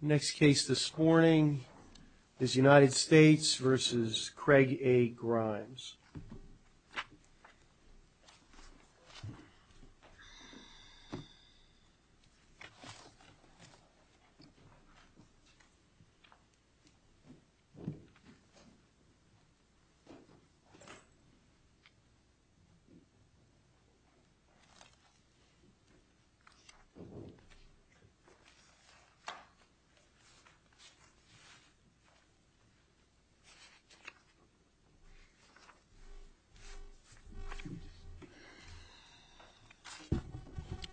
Next case this morning is United States v. Craig A. Grimes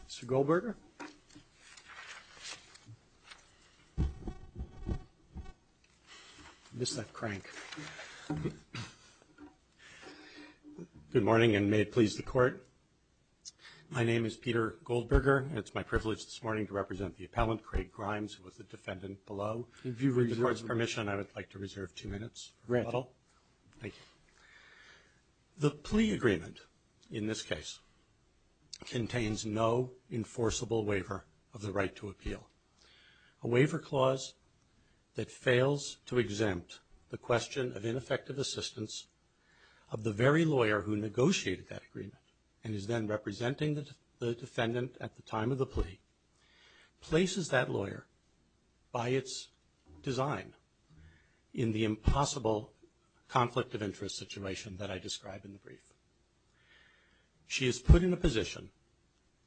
Mr. Goldberger? I missed that crank. Good morning and may it please the court. My name is Peter Goldberger. It's my privilege this morning to represent the appellant, Craig Grimes, who was the defendant below. If you would, with the court's permission, I would like to reserve two minutes. Rental. Thank you. The plea agreement in this case contains no enforceable waiver of the right to appeal. A waiver clause that fails to exempt the question of ineffective assistance of the very lawyer who negotiated that agreement and is then the defendant at the time of the plea places that lawyer, by its design, in the impossible conflict of interest situation that I described in the brief. She is put in a position,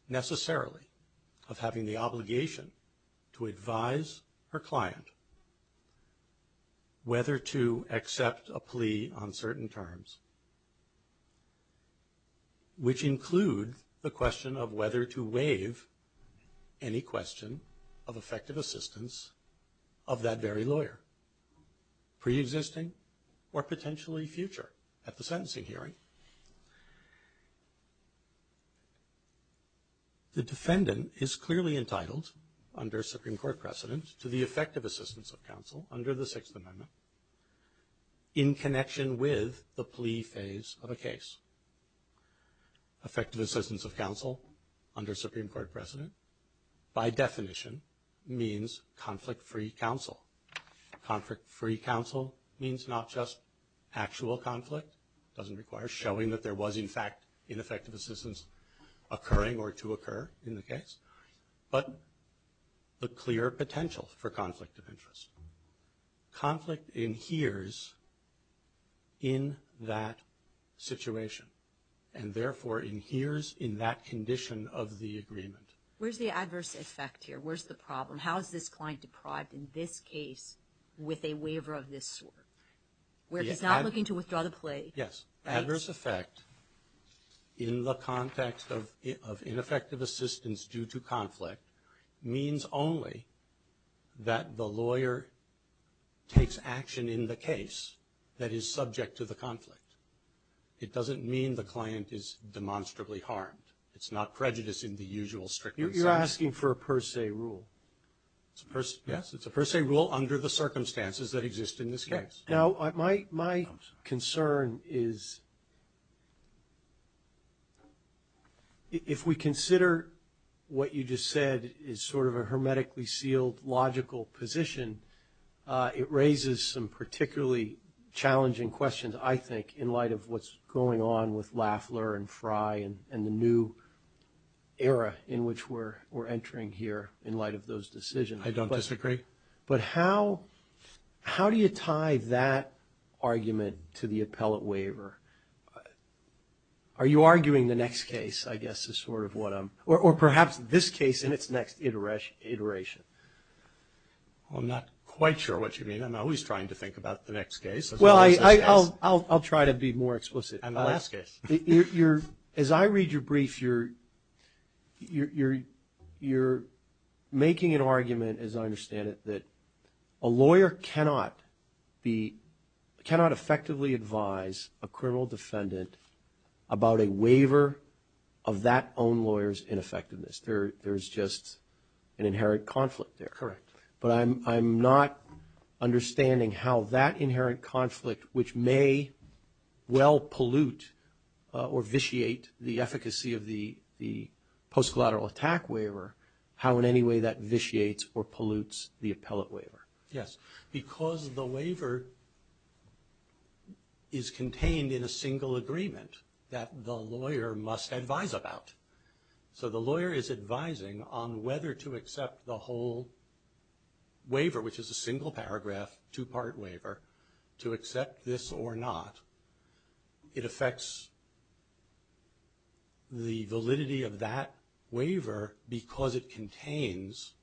necessarily, of having the obligation to advise her client whether to accept a plea on certain terms, which include the question of whether to waive any question of effective assistance of that very lawyer, pre-existing or potentially future, at the sentencing hearing. The defendant is clearly entitled, under Supreme Court precedent, to the effective assistance of counsel under the plea phase of a case. Effective assistance of counsel under Supreme Court precedent, by definition, means conflict-free counsel. Conflict-free counsel means not just actual conflict – it doesn't require showing that there was, in fact, ineffective assistance occurring or to occur in the case – but the clear potential for conflict of interest. Conflict inheres in that situation and, therefore, inheres in that condition of the agreement. Where's the adverse effect here? Where's the problem? How is this client deprived in this case with a waiver of this sort? Where he's not looking to withdraw the plea? Yes. Adverse effect, in the context of ineffective assistance due to conflict, means only that the lawyer takes action in the case that is subject to the conflict. It doesn't mean the client is demonstrably harmed. It's not prejudice in the usual strictness of the law. You're asking for a per se rule. Yes. It's a per se rule under the circumstances that exist in this case. Now, my concern is, if we consider what you just said is sort of a hermetically sealed logical position, it raises some particularly challenging questions, I think, in light of what's going on with Lafler and Frye and the new era in which we're entering here in light of those decisions. I don't disagree. But how do you tie that argument to the appellate waiver? Are you arguing the next case, I guess, is sort of what I'm – or perhaps this case in its next iteration? I'm not quite sure what you mean. I'm always trying to think about the next case. Well, I'll try to be more explicit. And the last case. As I read your brief, you're making an argument, as I understand it, that a lawyer cannot effectively advise a criminal defendant about a waiver of that own lawyer's ineffectiveness. There's just an inherent conflict there. Correct. But I'm not understanding how that inherent conflict, which may well pollute or vitiate the efficacy of the post-collateral attack waiver, how in any way that vitiates or pollutes the appellate waiver. Yes. Because the waiver is contained in a single agreement that the lawyer must advise about. So the lawyer is advising on whether to accept the whole waiver, which is a single paragraph, two-part waiver, to accept this or not. It affects the validity of that waiver because it contains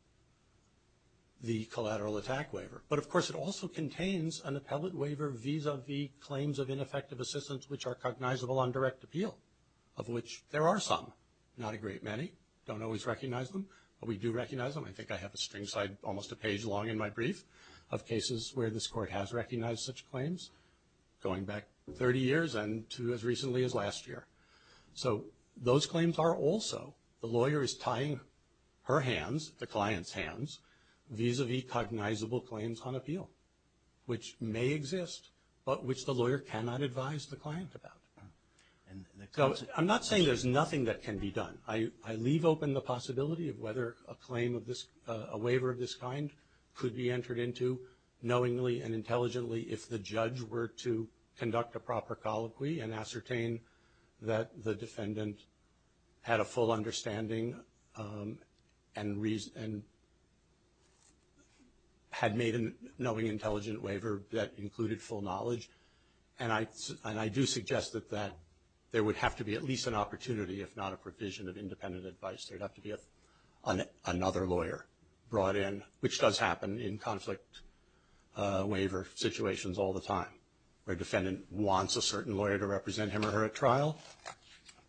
the collateral attack waiver. But, of course, it also contains an appellate waiver vis-a-vis claims of ineffective assistance which are cognizable on direct appeal, of which there are some. Not a great many. Don't always recognize them. But we do recognize them. I think I have a string side, almost a page long in my brief, of cases where this Court has recognized such claims. Going back 30 years and to as recently as last year. So those claims are also the lawyer is tying her hands, the client's hands, vis-a-vis cognizable claims on appeal, which may exist but which the lawyer cannot advise the client about. So I'm not saying there's nothing that can be done. I leave open the possibility of whether a claim of this, a waiver of this kind, could be entered into knowingly and intelligently if the judge were to conduct a proper colloquy and ascertain that the defendant had a full understanding and had made a knowing, intelligent waiver that included full knowledge. And I do suggest that there would have to be at least an opportunity, if not a provision of independent advice. There'd have to be another lawyer brought in, which does happen in conflict waiver situations all the time, where a defendant wants a certain lawyer to represent him or her at trial.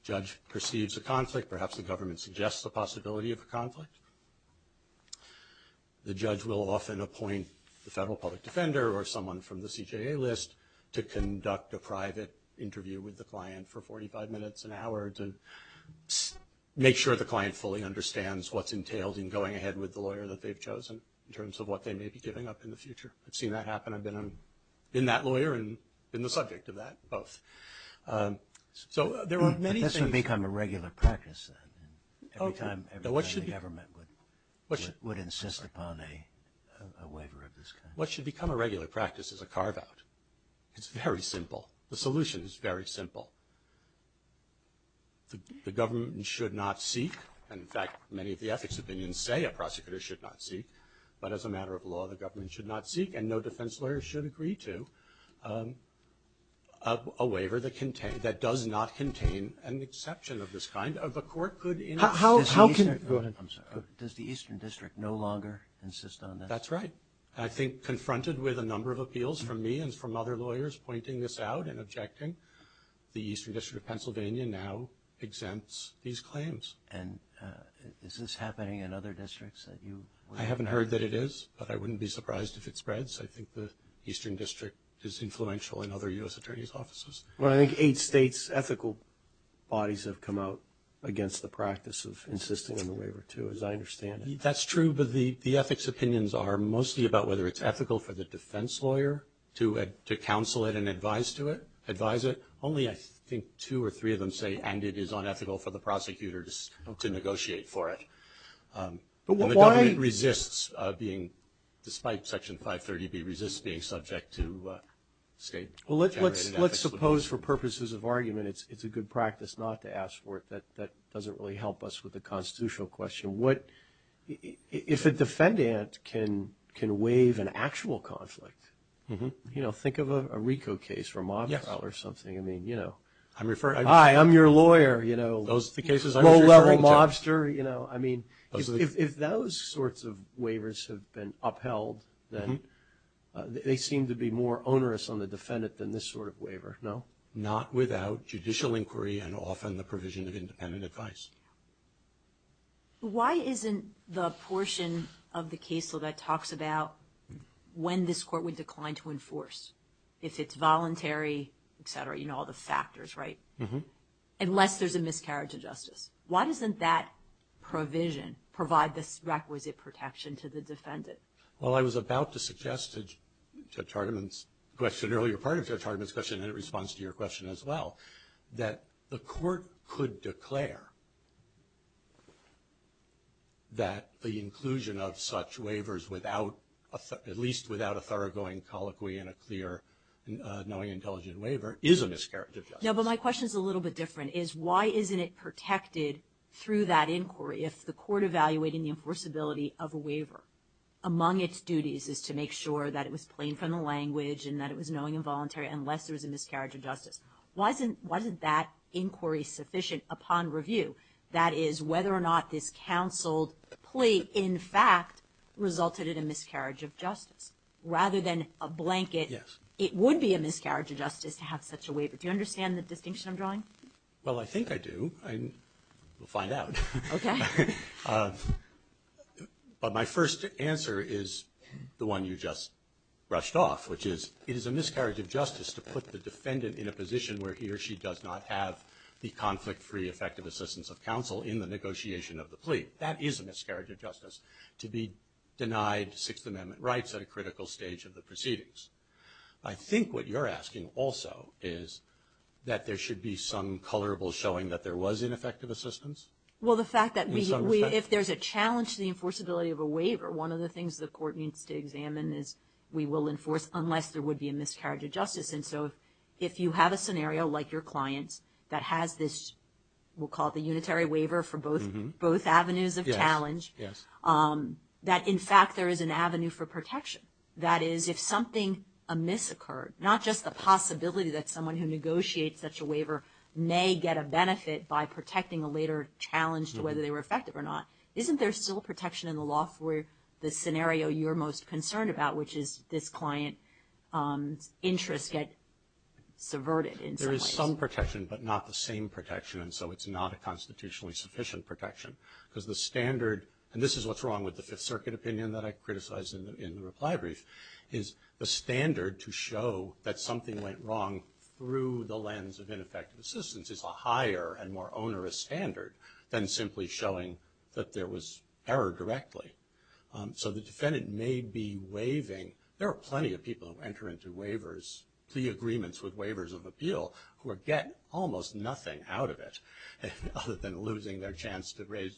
Judge perceives a conflict. Perhaps the government suggests the possibility of a conflict. The judge will often appoint the federal public defender or someone from the CJA list to conduct a private interview with the client for 45 minutes, an hour, to make sure the client fully understands what's entailed in going ahead with the lawyer that they've chosen in terms of what they may be giving up in the future. I've seen that happen. I've been that lawyer and been the subject of that, both. So there are many things. But this would become a regular practice, then, every time the government would insist upon a waiver of this kind. What should become a regular practice is a carve-out. It's very simple. The solution is very simple. The government should not seek. And, in fact, many of the ethics opinions say a prosecutor should not seek. But as a matter of law, the government should not seek, and no defense lawyer should agree to, a waiver that does not contain an exception of this kind. The court could, you know, how can- Go ahead. I'm sorry. Does the Eastern District no longer insist on this? That's right. I think, confronted with a number of appeals from me and from other lawyers pointing this out and objecting, the Eastern District of Pennsylvania now exempts these claims. And is this happening in other districts that you- I haven't heard that it is, but I wouldn't be surprised if it spreads. I think the Eastern District is influential in other U.S. attorneys' offices. Well, I think eight states' ethical bodies have come out against the practice of insisting on the waiver, too, as I understand it. That's true, but the ethics opinions are mostly about whether it's ethical for the defense lawyer to counsel it and advise to it, advise it. Only, I think, two or three of them say, and it is unethical for the prosecutor to negotiate for it. But why- And the government resists being, despite Section 530b, resists being subject to state- Well, let's suppose, for purposes of argument, it's a good practice not to ask for it. That doesn't really help us with the constitutional question. What- If a defendant can waive an actual conflict, think of a RICO case or a mob trial or something. I mean, you know- I'm referring- Hi, I'm your lawyer, you know. Those are the cases I'm referring to. Low-level mobster, you know. I mean, if those sorts of waivers have been upheld, then they seem to be more onerous on the defendant than this sort of waiver, no? Not without judicial inquiry and often the provision of independent advice. But why isn't the portion of the case law that talks about when this court would decline to enforce, if it's voluntary, et cetera, you know, all the factors, right? Mm-hmm. Unless there's a miscarriage of justice. Why doesn't that provision provide this requisite protection to the defendant? Well, I was about to suggest Judge Hardiman's question earlier, part of Judge Hardiman's and it responds to your question as well, that the court could declare that the inclusion of such waivers without, at least without a thoroughgoing colloquy and a clear knowing intelligent waiver is a miscarriage of justice. No, but my question is a little bit different, is why isn't it protected through that inquiry if the court evaluating the enforceability of a waiver among its duties is to make sure that it was plain from the language and that it was knowing and voluntary unless there was a miscarriage of justice? Why isn't that inquiry sufficient upon review? That is, whether or not this counseled plea, in fact, resulted in a miscarriage of justice rather than a blanket. Yes. It would be a miscarriage of justice to have such a waiver. Do you understand the distinction I'm drawing? Well, I think I do. We'll find out. Okay. But my first answer is the one you just rushed off, which is it is a miscarriage of justice to put the defendant in a position where he or she does not have the conflict-free effective assistance of counsel in the negotiation of the plea. That is a miscarriage of justice, to be denied Sixth Amendment rights at a critical stage of the proceedings. I think what you're asking also is that there should be some colorable showing that there was ineffective assistance. Well, the fact that if there's a challenge to the enforceability of a waiver, one of the things the court needs to examine is we will enforce unless there would be a miscarriage of justice. And so if you have a scenario like your client's that has this, we'll call it the unitary waiver for both avenues of challenge, that, in fact, there is an avenue for protection. That is, if something, a miss occurred, not just the possibility that someone who negotiates such a waiver may get a benefit by protecting a later challenge to whether they were effective or not, isn't there still protection in the law for the scenario you're most concerned about, which is this client's interests get subverted in some ways? There is some protection, but not the same protection. And so it's not a constitutionally sufficient protection, because the standard, and this is what's wrong with the Fifth Circuit opinion that I criticized in the reply brief, is the lens of ineffective assistance is a higher and more onerous standard than simply showing that there was error directly. So the defendant may be waiving. There are plenty of people who enter into waivers, plea agreements with waivers of appeal, who get almost nothing out of it other than losing their chance to raise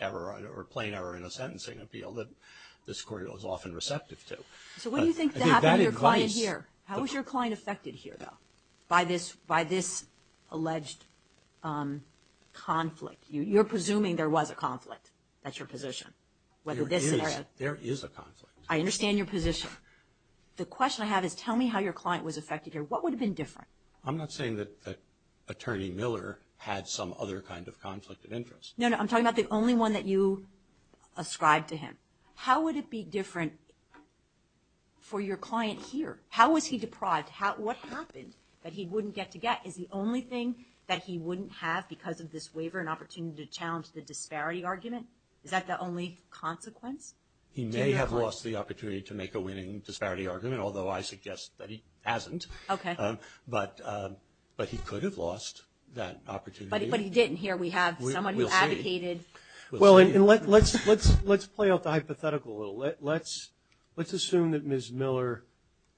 error or plain error in a sentencing appeal that this court is often receptive to. So what do you think happened to your client here? By this alleged conflict. You're presuming there was a conflict. That's your position. There is a conflict. I understand your position. The question I have is tell me how your client was affected here. What would have been different? I'm not saying that Attorney Miller had some other kind of conflict of interest. No, no, I'm talking about the only one that you ascribed to him. How would it be different for your client here? How was he deprived? What happened that he wouldn't get to get? Is the only thing that he wouldn't have because of this waiver an opportunity to challenge the disparity argument? Is that the only consequence? He may have lost the opportunity to make a winning disparity argument, although I suggest that he hasn't. Okay. But he could have lost that opportunity. But he didn't. Here we have someone who advocated. Well, let's play off the hypothetical a little. Let's assume that Ms. Miller,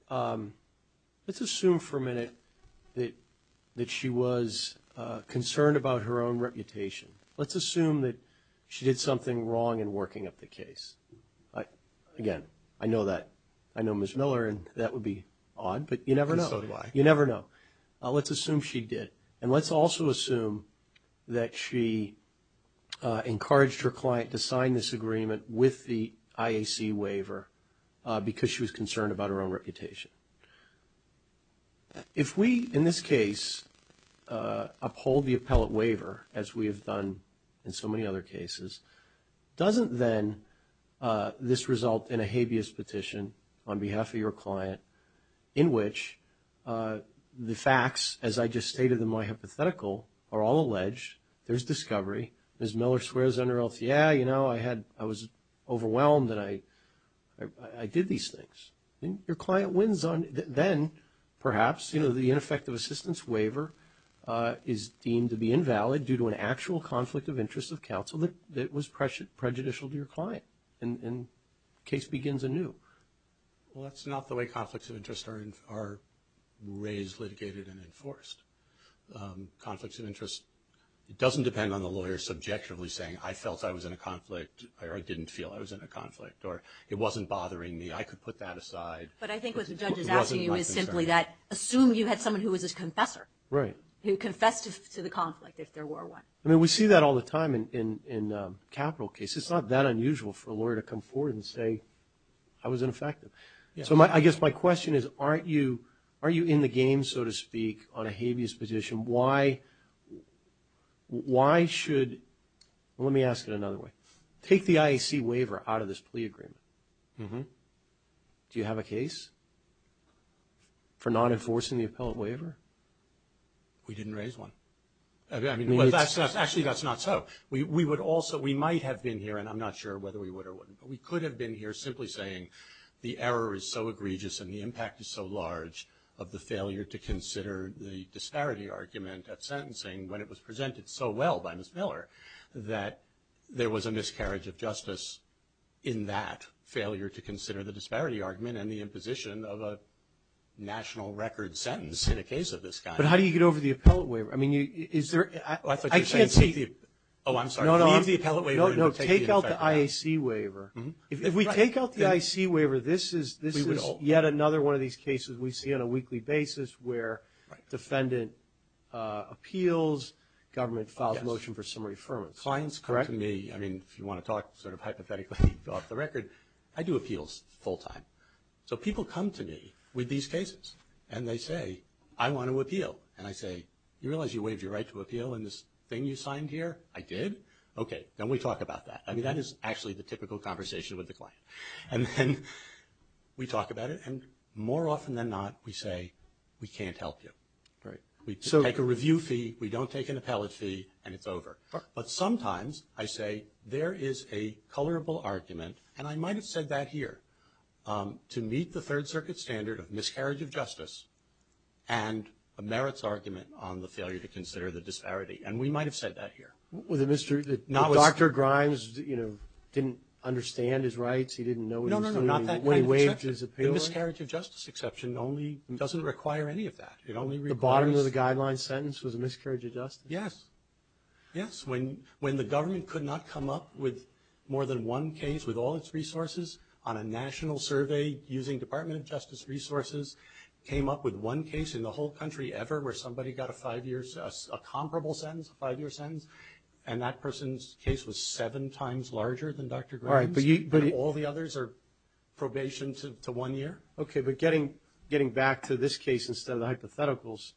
let's assume for a minute that she was concerned about her own reputation. Let's assume that she did something wrong in working up the case. Again, I know that. I know Ms. Miller and that would be odd, but you never know. And so do I. You never know. Let's assume she did. And let's also assume that she encouraged her client to sign this agreement with the IAC waiver because she was concerned about her own reputation. If we, in this case, uphold the appellate waiver, as we have done in so many other cases, doesn't then this result in a habeas petition on behalf of your client in which the facts, as I just stated in my hypothetical, are all alleged. There's discovery. Ms. Miller swears under oath, yeah, you know, I had, I was overwhelmed that I did these things. And your client wins on, then perhaps, you know, the ineffective assistance waiver is deemed to be invalid due to an actual conflict of interest of counsel that was prejudicial to your client. And the case begins anew. Well, that's not the way conflicts of interest are raised, litigated, and enforced. Conflicts of interest, it doesn't depend on the lawyer subjectively saying, I felt I was in a conflict, or I didn't feel I was in a conflict, or it wasn't bothering me. I could put that aside. But I think what the judge is asking you is simply that, assume you had someone who was a confessor. Right. Who confessed to the conflict, if there were one. I mean, we see that all the time in capital cases. It's not that unusual for a lawyer to come forward and say, I was ineffective. So I guess my question is, aren't you, are you in the game, so to speak, on a habeas position? Why, why should, let me ask it another way. Take the IAC waiver out of this plea agreement. Do you have a case for not enforcing the appellate waiver? We didn't raise one. Actually, that's not so. We would also, we might have been here, and I'm not sure whether we would or wouldn't, but we could have been here simply saying, the error is so egregious and the impact is so large of the failure to consider the disparity argument at sentencing, when it was presented so well by Ms. Miller, that there was a miscarriage of justice in that failure to consider the disparity argument and the imposition of a national record sentence in a case of this kind. But how do you get over the appellate waiver? I mean, is there, I thought you were saying. Oh, I'm sorry. Leave the appellate waiver. No, no, take out the IAC waiver. If we take out the IAC waiver, this is yet another one of these cases we see on a weekly basis, where defendant appeals, government files a motion for summary affirmance. Clients come to me, I mean, if you want to talk sort of hypothetically, fill out the record. I do appeals full time. And I say, you realize you waived your right to appeal in this thing you signed here? I did? Okay, then we talk about that. I mean, that is actually the typical conversation with the client. And then we talk about it, and more often than not, we say, we can't help you. Right. We take a review fee, we don't take an appellate fee, and it's over. But sometimes I say, there is a colorable argument, and I might have said that here, to meet the Third Circuit standard of miscarriage of justice and a merits argument on the failure to consider the disparity. And we might have said that here. Was it Mr. Dr. Grimes, you know, didn't understand his rights? He didn't know what he was doing when he waived his appeal? No, no, no, not that kind of exception. The miscarriage of justice exception only doesn't require any of that. It only requires. The bottom of the guideline sentence was a miscarriage of justice? Yes, yes. When the government could not come up with more than one case with all its resources on a national survey, using Department of Justice resources, came up with one case in the whole country ever where somebody got a five-year, a comparable sentence, a five-year sentence, and that person's case was seven times larger than Dr. Grimes? All right, but you. And all the others are probation to one year? Okay, but getting back to this case instead of the hypotheticals,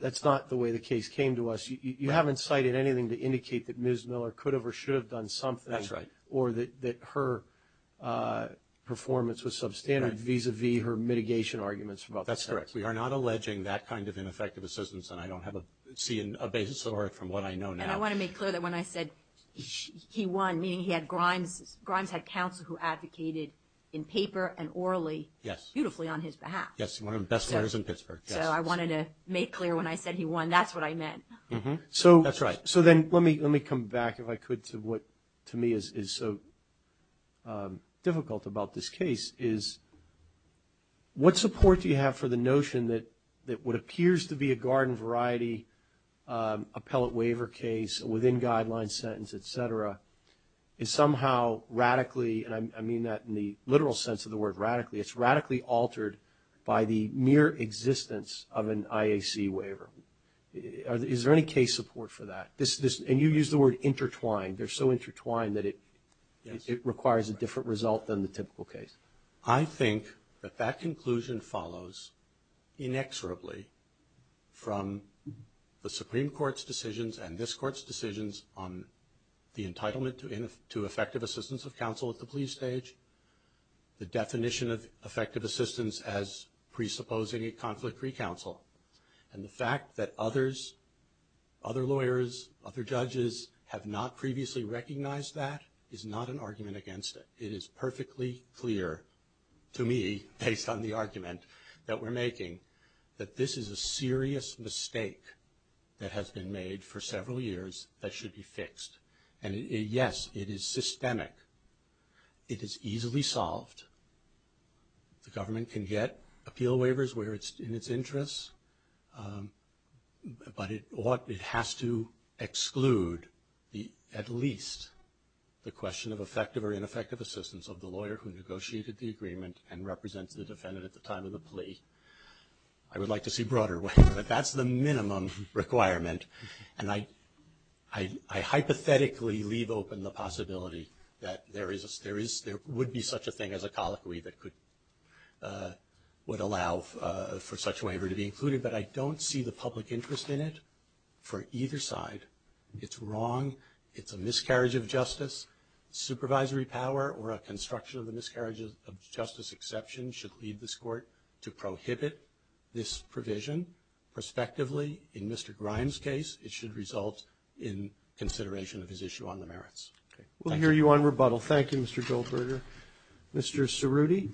that's not the way the case came to us. You haven't cited anything to indicate that Ms. Miller could have or should have done something. That's right. Or that her performance was substandard vis-a-vis her mitigation arguments? Well, that's correct. We are not alleging that kind of ineffective assistance, and I don't see a basis for it from what I know now. And I want to make clear that when I said he won, meaning he had Grimes, Grimes had counsel who advocated in paper and orally beautifully on his behalf. Yes, one of the best lawyers in Pittsburgh. So I wanted to make clear when I said he won, that's what I meant. That's right. So then let me come back, if I could, to what to me is so difficult about this case is what support do you have for the notion that what appears to be a garden variety appellate waiver case within guideline sentence, et cetera, is somehow radically, and I mean that in the literal sense of the word radically, it's radically altered by the mere existence of an IAC waiver. Is there any case support for that? And you use the word intertwined. They're so intertwined that it requires a different result than the typical case. I think that that conclusion follows inexorably from the Supreme Court's decisions and this Court's decisions on the entitlement to effective assistance of counsel at the plea stage, the definition of effective assistance as presupposing a conflict re-counsel, and the fact that others, other lawyers, other judges have not previously recognized that is not an argument against it. It is perfectly clear to me, based on the argument that we're making, that this is a serious mistake that has been made for several years that should be fixed. And yes, it is systemic. It is easily solved. The government can get appeal waivers where it's in its interest, but it ought, it has to exclude at least the question of effective or ineffective assistance of the lawyer who negotiated the agreement and represented the defendant at the time of the plea. I would like to see broader ways, but that's the minimum requirement. And I hypothetically leave open the possibility that there would be such a thing as a colloquy that could, would allow for such a waiver to be included. But I don't see the public interest in it for either side. It's wrong. It's a miscarriage of justice. Supervisory power or a construction of a miscarriage of justice exception should lead this Court to prohibit this provision. Prospectively, in Mr. Grimes' case, it should result in consideration of his issue on the merits. Okay. Thank you. We'll hear you on rebuttal. Thank you, Mr. Goldberger. Mr. Cerruti.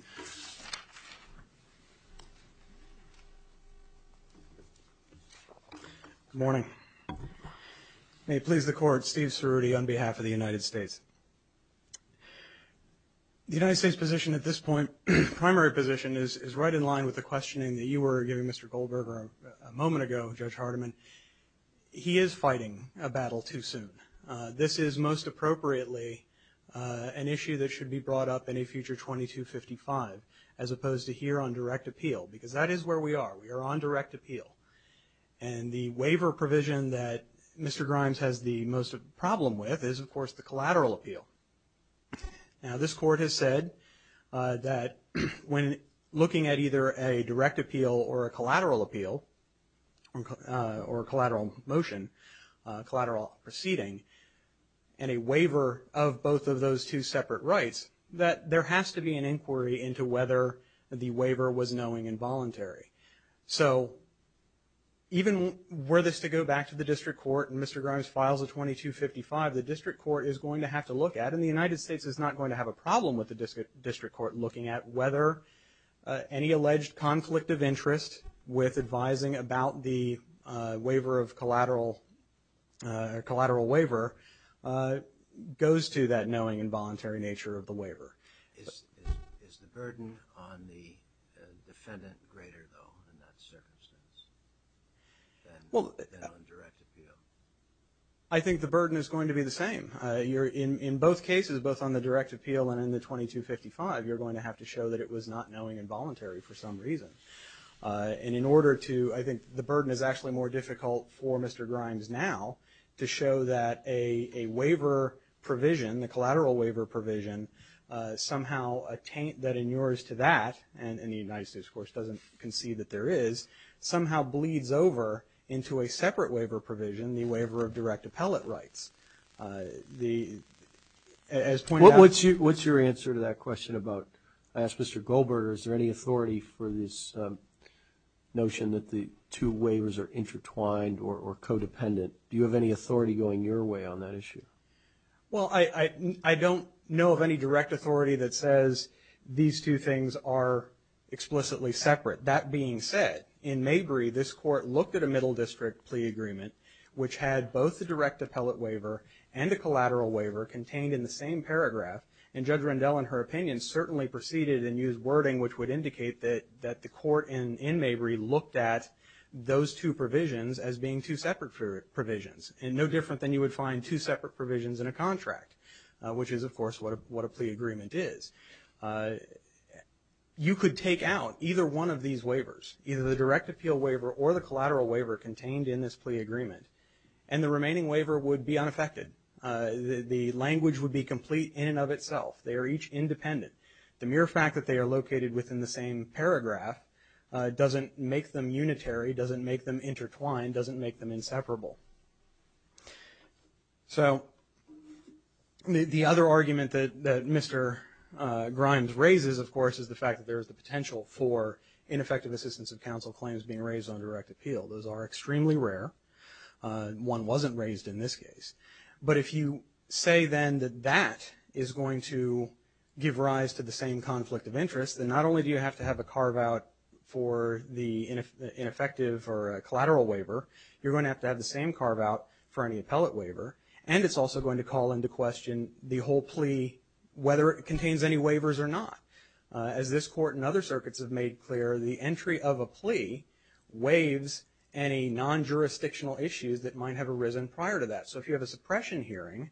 Good morning. May it please the Court, Steve Cerruti on behalf of the United States. The United States position at this point, primary position, is right in line with the questioning that you were giving Mr. Goldberger a moment ago, Judge Hardiman. He is fighting a battle too soon. This is most appropriately an issue that should be brought up in a future 2255 as opposed to here on direct appeal. Because that is where we are. We are on direct appeal. And the waiver provision that Mr. Grimes has the most problem with is, of course, the collateral appeal. Now, this Court has said that when looking at either a direct appeal or a collateral appeal or collateral motion, collateral proceeding, and a waiver of both of those two separate rights, that there has to be an inquiry into whether the waiver was knowing involuntary. So even were this to go back to the district court and Mr. Grimes files a 2255, the district court is going to have to look at, and the United States is not going to have a problem with the district court looking at whether any alleged conflict of interest with advising about the waiver of collateral, collateral waiver, goes to that knowing involuntary nature of the waiver. Is the burden on the defendant greater though in that circumstance than on direct appeal? I think the burden is going to be the same. You're in both cases, both on the direct appeal and in the 2255, you're going to have to show that it was not knowing involuntary for some reason. And in order to, I think the burden is actually more difficult for Mr. Grimes now to show that a waiver provision, the collateral waiver provision, somehow a taint that in yours to that, and the United States, of course, doesn't concede that there is, somehow bleeds over into a separate waiver provision, the waiver of direct appellate rights. The, as pointed out. What's your answer to that question about, I asked Mr. Goldberger, is there any authority for this notion that the two waivers are intertwined or codependent? Do you have any authority going your way on that issue? Well, I don't know of any direct authority that says these two things are explicitly separate. That being said, in Mabry, this court looked at a middle district plea agreement, which had both the direct appellate waiver and the collateral waiver contained in the same paragraph. And Judge Rendell, in her opinion, certainly proceeded and used wording which would indicate that the court in Mabry looked at those two provisions as being two separate provisions. And no different than you would find two separate provisions in a contract, which is, of course, what a plea agreement is. You could take out either one of these waivers, either the direct appeal waiver or the collateral waiver contained in this plea agreement, and the remaining waiver would be unaffected. The language would be complete in and of itself. They are each independent. The mere fact that they are located within the same paragraph doesn't make them unitary, doesn't make them intertwined, doesn't make them inseparable. So the other argument that Mr. Grimes raises, of course, is the fact that there is the potential for ineffective assistance of counsel claims being raised on direct appeal. Those are extremely rare. One wasn't raised in this case. But if you say then that that is going to give rise to the same conflict of interest, then not only do you have to have a carve-out for the ineffective or collateral waiver, you're going to have to have the same carve-out for any appellate waiver. And it's also going to call into question the whole plea, whether it contains any waivers or not. As this Court and other circuits have made clear, the entry of a plea waives any non-jurisdictional issues that might have arisen prior to that. So if you have a suppression hearing,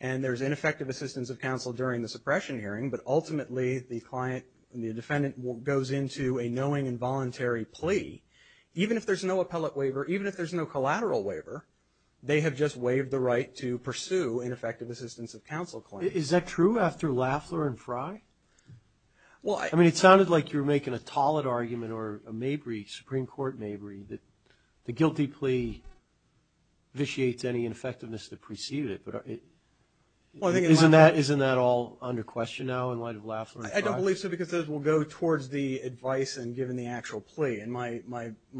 and there's ineffective assistance of counsel during the suppression hearing, but ultimately the defendant goes into a knowing and voluntary plea, even if there's no appellate waiver, even if there's no collateral waiver, they have just waived the right to pursue ineffective assistance of counsel claims. Is that true after Lafleur and Frye? I mean, it sounded like you were making a Tollett argument or a Mabry, Supreme Court Mabry, that the guilty plea vitiates any ineffectiveness that preceded it. Isn't that all under question now in light of Lafleur and Frye? I don't believe so, because those will go towards the advice and given the actual plea. And my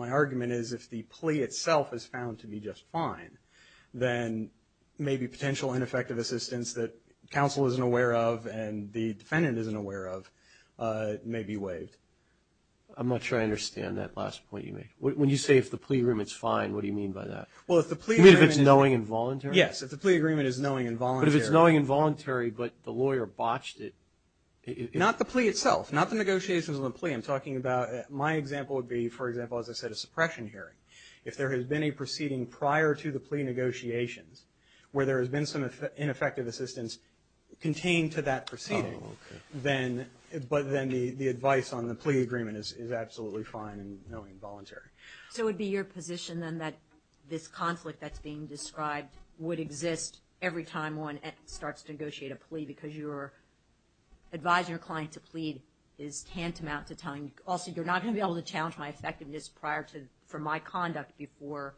argument is if the plea itself is found to be just fine, then maybe potential ineffective assistance that counsel isn't aware of and the defendant isn't aware of may be waived. I'm not sure I understand that last point you made. When you say if the plea agreement's fine, what do you mean by that? Well, if the plea agreement is... You mean if it's knowing and voluntary? Yes, if the plea agreement is knowing and voluntary. But if it's knowing and voluntary, but the lawyer botched it... Not the plea itself, not the negotiations on the plea. I'm talking about, my example would be, for example, as I said, a suppression hearing. If there has been a proceeding prior to the plea negotiations where there has been some ineffective assistance contained to that proceeding, but then the advice on the plea agreement is absolutely fine and knowing and voluntary. So it would be your position then that this conflict that's being described would exist every time one starts to negotiate a plea because you're advising your client to plead is tantamount to telling... Also, you're not going to be able to challenge my effectiveness prior to, from my conduct before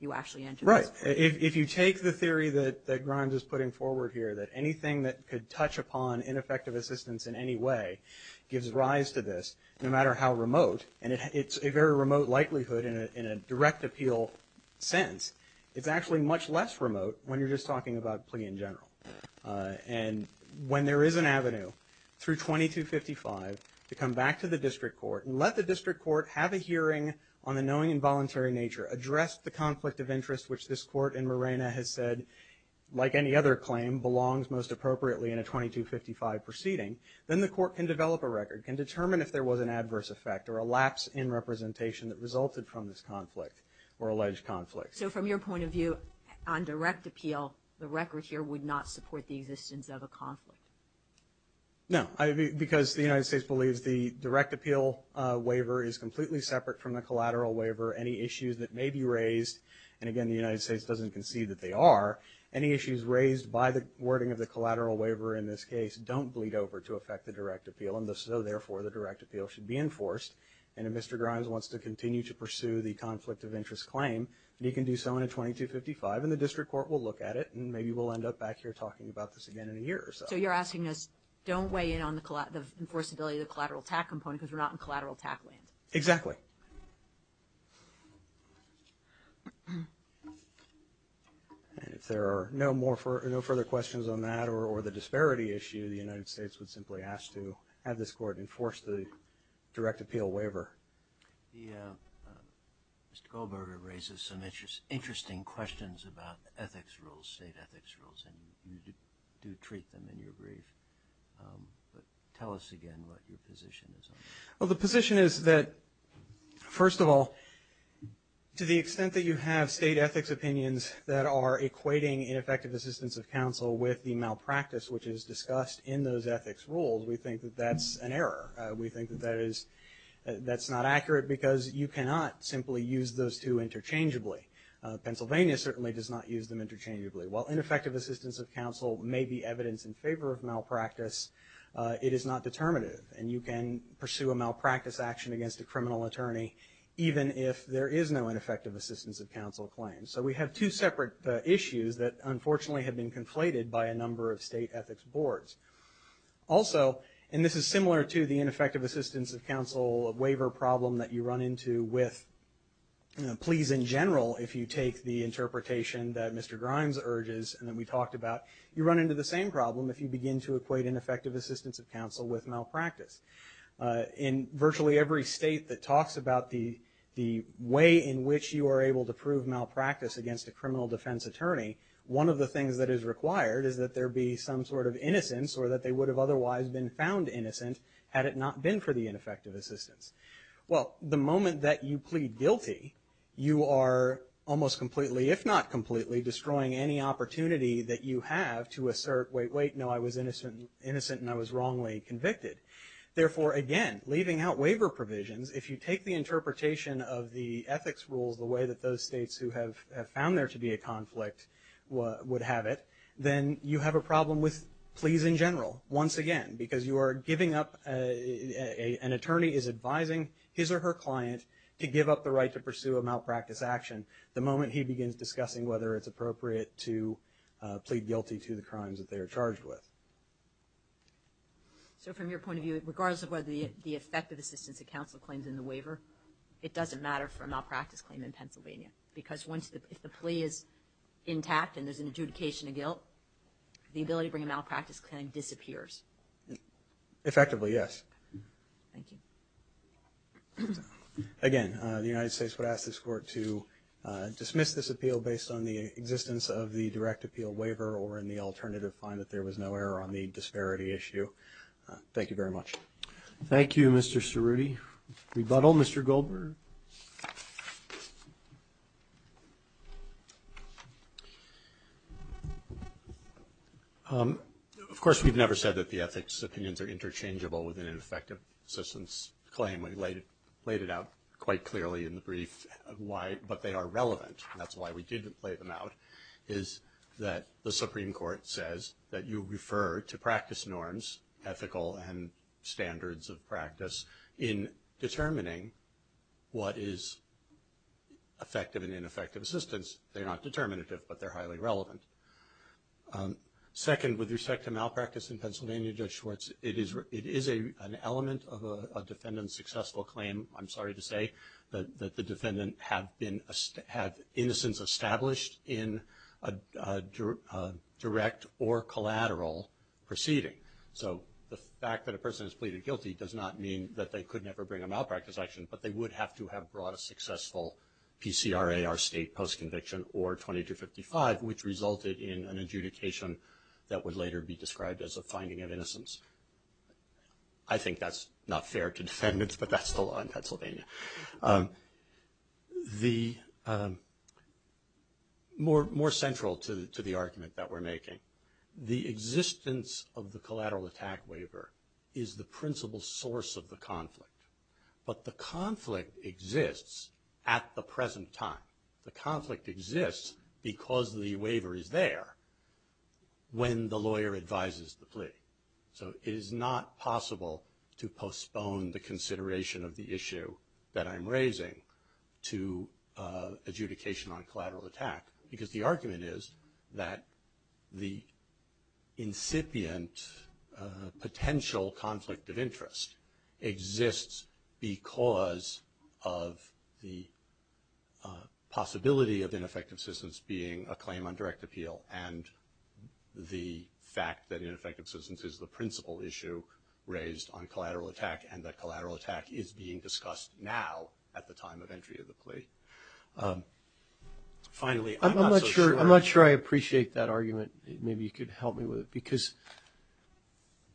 you actually enter this plea. If you take the theory that Grimes is putting forward here, that anything that could touch upon ineffective assistance in any way gives rise to this, no matter how remote, and it's a very remote likelihood in a direct appeal sense. It's actually much less remote when you're just talking about plea in general. And when there is an avenue through 2255 to come back to the district court and let the district court have a hearing on the knowing and voluntary nature, address the conflict of interest, which this court in Morena has said, like any other claim, belongs most appropriately in a 2255 proceeding, then the court can develop a record, can determine if there was an adverse effect or a lapse in representation that resulted from this conflict or alleged conflict. So from your point of view, on direct appeal, the record here would not support the existence of a conflict? No, because the United States believes the direct appeal waiver is completely separate from the collateral waiver. Any issues that may be raised, and again, the United States doesn't concede that they are, any issues raised by the wording of the collateral waiver in this case don't bleed over to affect the direct appeal, and so therefore the direct appeal should be enforced. And if Mr. Grimes wants to continue to pursue the conflict of interest claim, he can do so in a 2255, and the district court will look at it, and maybe we'll end up back here talking about this again in a year or so. So you're asking us, don't weigh in on the enforceability of the collateral TAC component because we're not in collateral TAC land? Exactly. And if there are no further questions on that or the disparity issue, the United States would simply ask to have this court enforce the direct appeal waiver. Mr. Goldberger raises some interesting questions about ethics rules, state ethics rules, and you do treat them in your brief. But tell us again what your position is on that. Well, the position is that, first of all, to the extent that you have state ethics opinions that are equating ineffective assistance of counsel with the malpractice which is discussed in those ethics rules, we think that that's an error. We think that that is, that's not accurate because you cannot simply use those two interchangeably. Pennsylvania certainly does not use them interchangeably. While ineffective assistance of counsel may be evidence in favor of malpractice, it is not determinative and you can pursue a malpractice action against a criminal attorney even if there is no ineffective assistance of counsel claim. So we have two separate issues that unfortunately have been conflated by a number of state ethics boards. Also, and this is similar to the ineffective assistance of counsel waiver problem that you run into with pleas in general if you take the interpretation that Mr. Grimes urges and that we talked about, you run into the same problem if you begin to equate ineffective assistance of counsel with malpractice. In virtually every state that talks about the way in which you are able to prove malpractice against a criminal defense attorney, one of the things that is required is that there be some sort of innocence or that they would have otherwise been found innocent had it not been for the ineffective assistance. Well, the moment that you plead guilty, you are almost completely, if not completely, destroying any opportunity that you have to assert, wait, wait, no, I was innocent, innocent and I was wrongly convicted. Therefore, again, leaving out waiver provisions, if you take the interpretation of the ethics rules the way that those states who have found there to be a conflict would have it, then you have a problem with pleas in general, once again, because you are giving up, an attorney is advising his or her client to give up the right to pursue a malpractice action the moment he begins discussing whether it's appropriate to plead guilty to the crimes that they are charged with. So, from your point of view, regardless of whether the effective assistance that counsel claims in the waiver, it doesn't matter for a malpractice claim in Pennsylvania, because once the plea is intact and there is an adjudication of guilt, the ability to bring a malpractice claim disappears. Effectively, yes. Thank you. Again, the United States would ask this Court to dismiss this appeal based on the existence of the direct appeal waiver or in the alternative find that there was no error on the disparity issue. Thank you very much. Thank you, Mr. Cerruti. Rebuttal, Mr. Goldberg. Of course, we've never said that the ethics opinions are interchangeable within an effective assistance claim. We laid it out quite clearly in the brief, but they are relevant. That's why we didn't lay them out, is that the Supreme Court says that you refer to practice norms, ethical and standards of practice, in determining what is effective and ineffective assistance. They're not determinative, but they're highly relevant. Second, with respect to malpractice in Pennsylvania, Judge Schwartz, it is an element of a defendant's successful claim, I'm sorry to say, that the defendant had innocence established in a direct or collateral proceeding. So the fact that a person is pleaded guilty does not mean that they could never bring a malpractice action, but they would have to have brought a successful PCRA or state post-conviction or 2255, which resulted in an adjudication that would later be described as a finding of innocence. I think that's not fair to defendants, but that's the law in Pennsylvania. More central to the argument that we're making, the existence of the collateral attack waiver is the principal source of the conflict, but the conflict exists at the present time. The conflict exists because the waiver is there when the lawyer advises the plea. So it is not possible to postpone the consideration of the issue that I'm raising to adjudication on collateral attack, because the argument is that the incipient potential conflict of interest exists because of the possibility of ineffective assistance being a claim on is the principal issue raised on collateral attack, and that collateral attack is being discussed now at the time of entry of the plea. Finally, I'm not so sure. I'm not sure I appreciate that argument. Maybe you could help me with it, because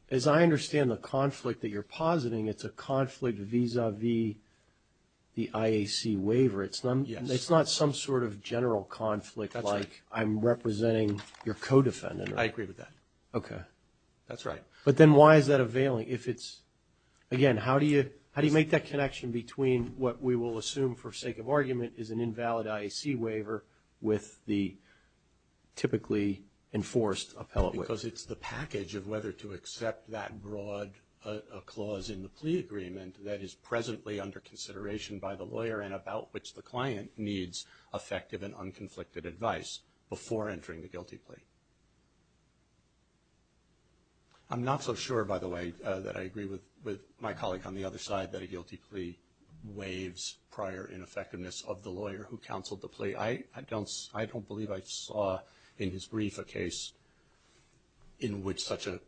as I understand the conflict that you're positing, it's a conflict vis-a-vis the IAC waiver. It's not some sort of general conflict like I'm representing your co-defendant. I agree with that. Okay. That's right. But then why is that availing if it's, again, how do you make that connection between what we will assume for sake of argument is an invalid IAC waiver with the typically enforced appellate waiver? Because it's the package of whether to accept that broad clause in the plea agreement that is presently under consideration by the lawyer and about which the client needs effective and unconflicted advice before entering the guilty plea. I'm not so sure, by the way, that I agree with my colleague on the other side that a guilty plea waives prior ineffectiveness of the lawyer who counseled the plea. I don't believe I saw in his brief a case in which such a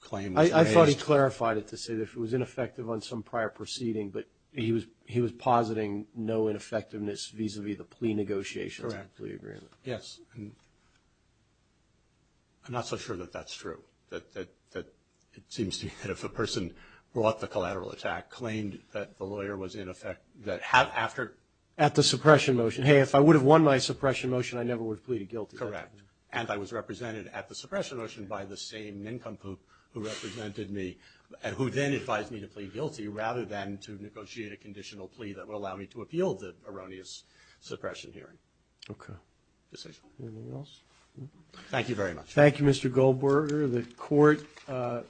claim was raised. I thought he clarified it to say that if it was ineffective on some prior proceeding, but he was positing no ineffectiveness vis-a-vis the plea negotiations in the plea agreement. Yes. And I'm not so sure that that's true, that it seems to me that if a person brought the collateral attack, claimed that the lawyer was in effect, that after... At the suppression motion. Hey, if I would have won my suppression motion, I never would have pleaded guilty. Correct. And I was represented at the suppression motion by the same nincompoop who represented me and who then advised me to plead guilty rather than to negotiate a conditional plea that would allow me to appeal the erroneous suppression hearing. Okay. Anything else? Thank you very much. Thank you, Mr. Goldberger. The court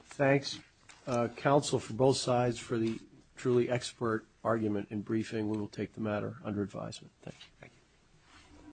thanks counsel for both sides for the truly expert argument and briefing. We will take the matter under advisement. Thank you.